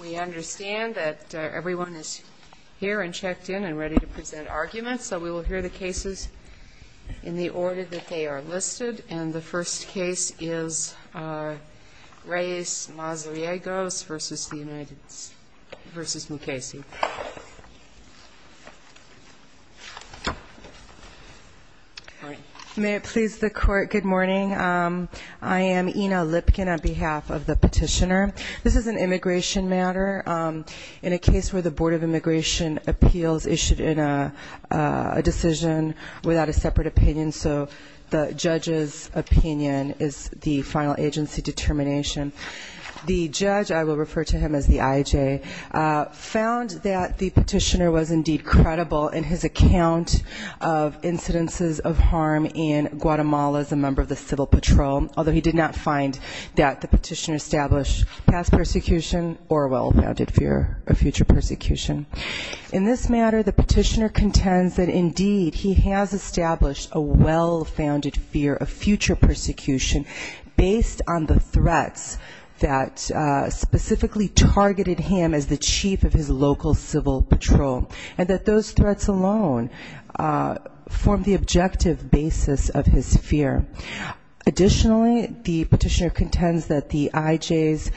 We understand that everyone is here and checked in and ready to present arguments so we will hear the cases in the order that they are listed and the first case is Reyes Mazariegos v. Mukasey. May it please the court good morning I am Ina Lipkin on behalf of the petitioner this is an immigration matter in a case where the Board of Immigration Appeals issued in a decision without a separate opinion so the judge's opinion is the final agency determination the judge I will refer to him as the IJ found that the petitioner was indeed credible in his account of incidences of harm in Guatemala as a member of the civil patrol although he did not find that the petitioner established past persecution or well-founded fear of future persecution in this matter the petitioner contends that indeed he has established a well-founded fear of future persecution based on the threats that specifically targeted him as the those threats alone form the objective basis of his fear additionally the petitioner contends that the IJ's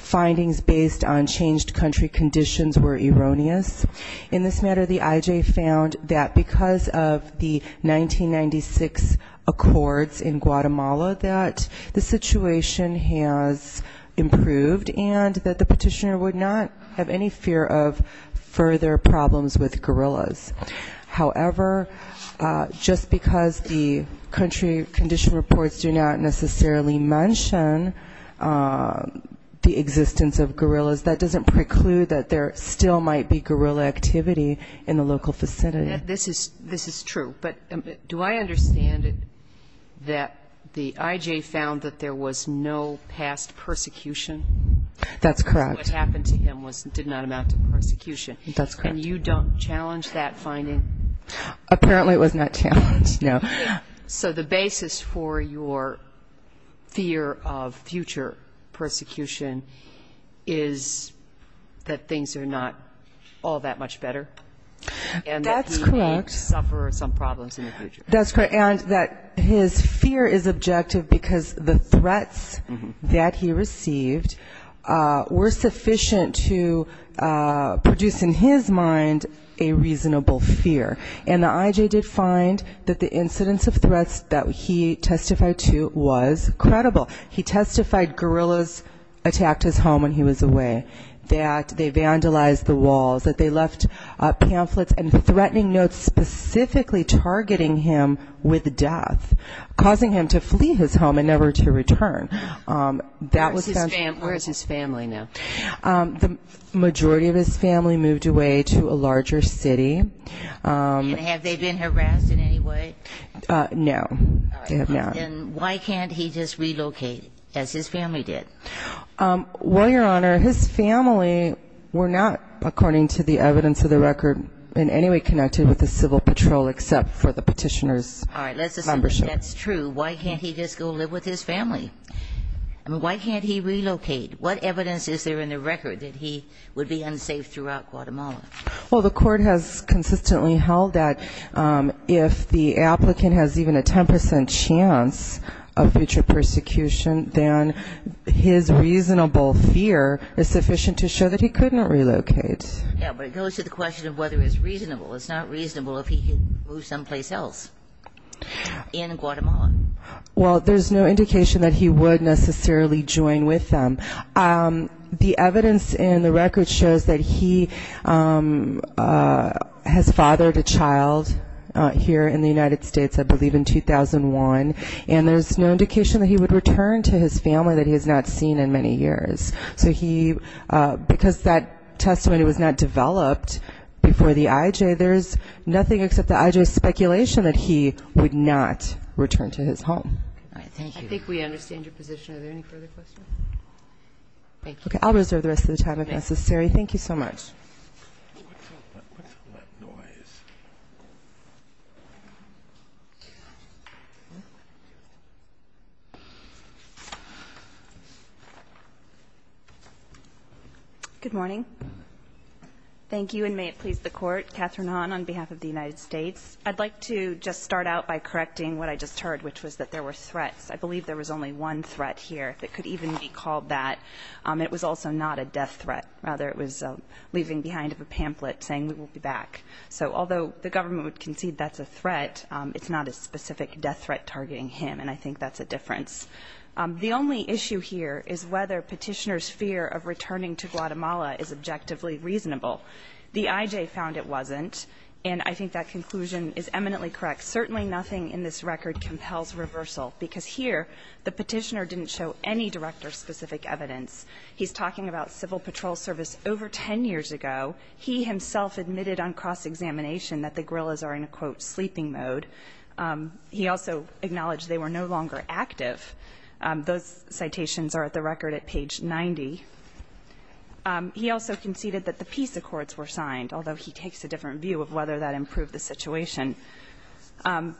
findings based on changed country conditions were erroneous in this matter the IJ found that because of the 1996 accords in Guatemala that the situation has improved and that the petitioner would not have any fear of further problems with guerrillas however just because the country condition reports do not necessarily mention the existence of guerrillas that doesn't preclude that there still might be guerrilla activity in the local facility this is this is true but do I understand that the IJ found that there was no past persecution that's correct what happened to him was did not amount to persecution that's and you don't challenge that finding apparently it was not challenged no so the basis for your fear of future persecution is that things are not all that much better and that's correct suffer some problems in the future that's correct and that his fear is objective because the threats that he received were sufficient to produce in his mind a reasonable fear and the IJ did find that the incidence of threats that he testified to was credible he testified guerrillas attacked his home when he was away that they vandalized the walls that they left pamphlets and threatening notes specifically targeting him with death causing him to flee his home and never to return that was his family now the majority of his family moved away to a larger city no no and why can't he just relocate as his family did well your honor his family were not according to the evidence of the record in any way connected with the civil patrol except for the petitioners membership that's true why can't he just go live with his family why can't he relocate what evidence is there in the record that he would be unsafe throughout Guatemala well the court has consistently held that if the applicant has even a 10% chance of future persecution then his reasonable fear is to the question of whether it's reasonable it's not reasonable if he can move someplace else in Guatemala well there's no indication that he would necessarily join with them the evidence in the record shows that he has fathered a child here in the United States I believe in 2001 and there's no indication that he would return to his family that he has not seen in many years so he because that testimony was not developed before the IJ there's nothing except the IJ speculation that he would not return to his home okay I'll reserve the rest of the time if necessary thank you so much good morning thank you and may it please the court Catherine on on behalf of the United States I'd like to just start out by correcting what I just heard which was that there were threats I believe there was only one threat here if it could even be called that it was also not a death threat rather it was leaving behind of a pamphlet saying we will be back so although the government would concede that's a threat it's not a specific death threat targeting him and I think that's a difference the only issue here is whether petitioners fear of returning to Guatemala is objectively reasonable the IJ found it wasn't and I think that conclusion is eminently correct certainly nothing in this record compels reversal because here the petitioner didn't show any director specific evidence he's talking about Civil Patrol service over 10 years ago he himself admitted on cross-examination that the guerrillas are in a quote sleeping mode he also acknowledged they were no longer active those citations are at the record at page 90 he also conceded that the peace accords were signed although he takes a different view of whether that improved the situation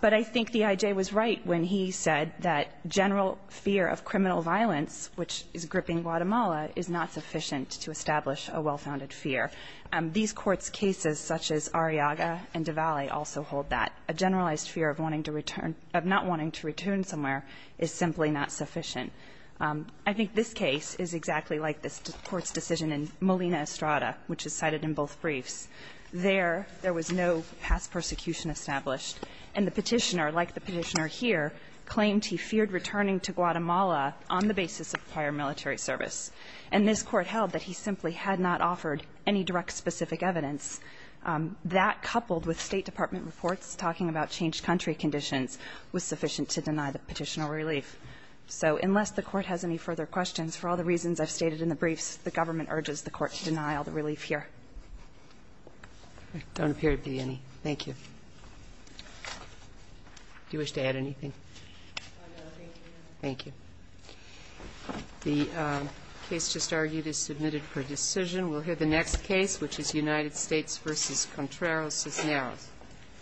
but I think the IJ was right when he said that general fear of criminal violence which is gripping Guatemala is not sufficient to establish a well-founded fear and these courts cases such as Arriaga and Davali also hold that a generalized fear of wanting to return of not wanting to return somewhere is simply not sufficient I think this case is exactly like this court's decision in Molina Estrada which is cited in both briefs there there was no past persecution established and the petitioner like the petitioner here claimed he feared returning to Guatemala on the basis of prior military service and this court held that he simply had not offered any direct specific evidence that coupled with State Department reports talking about changed country conditions was sufficient to deny the petitioner relief so unless the court has any further questions for all the reasons I've stated in the briefs the government urges the court to deny all the relief here don't appear to be any thank you do you wish to add anything thank you the case just argued is submitted for decision we'll hear the United States versus Contreras is now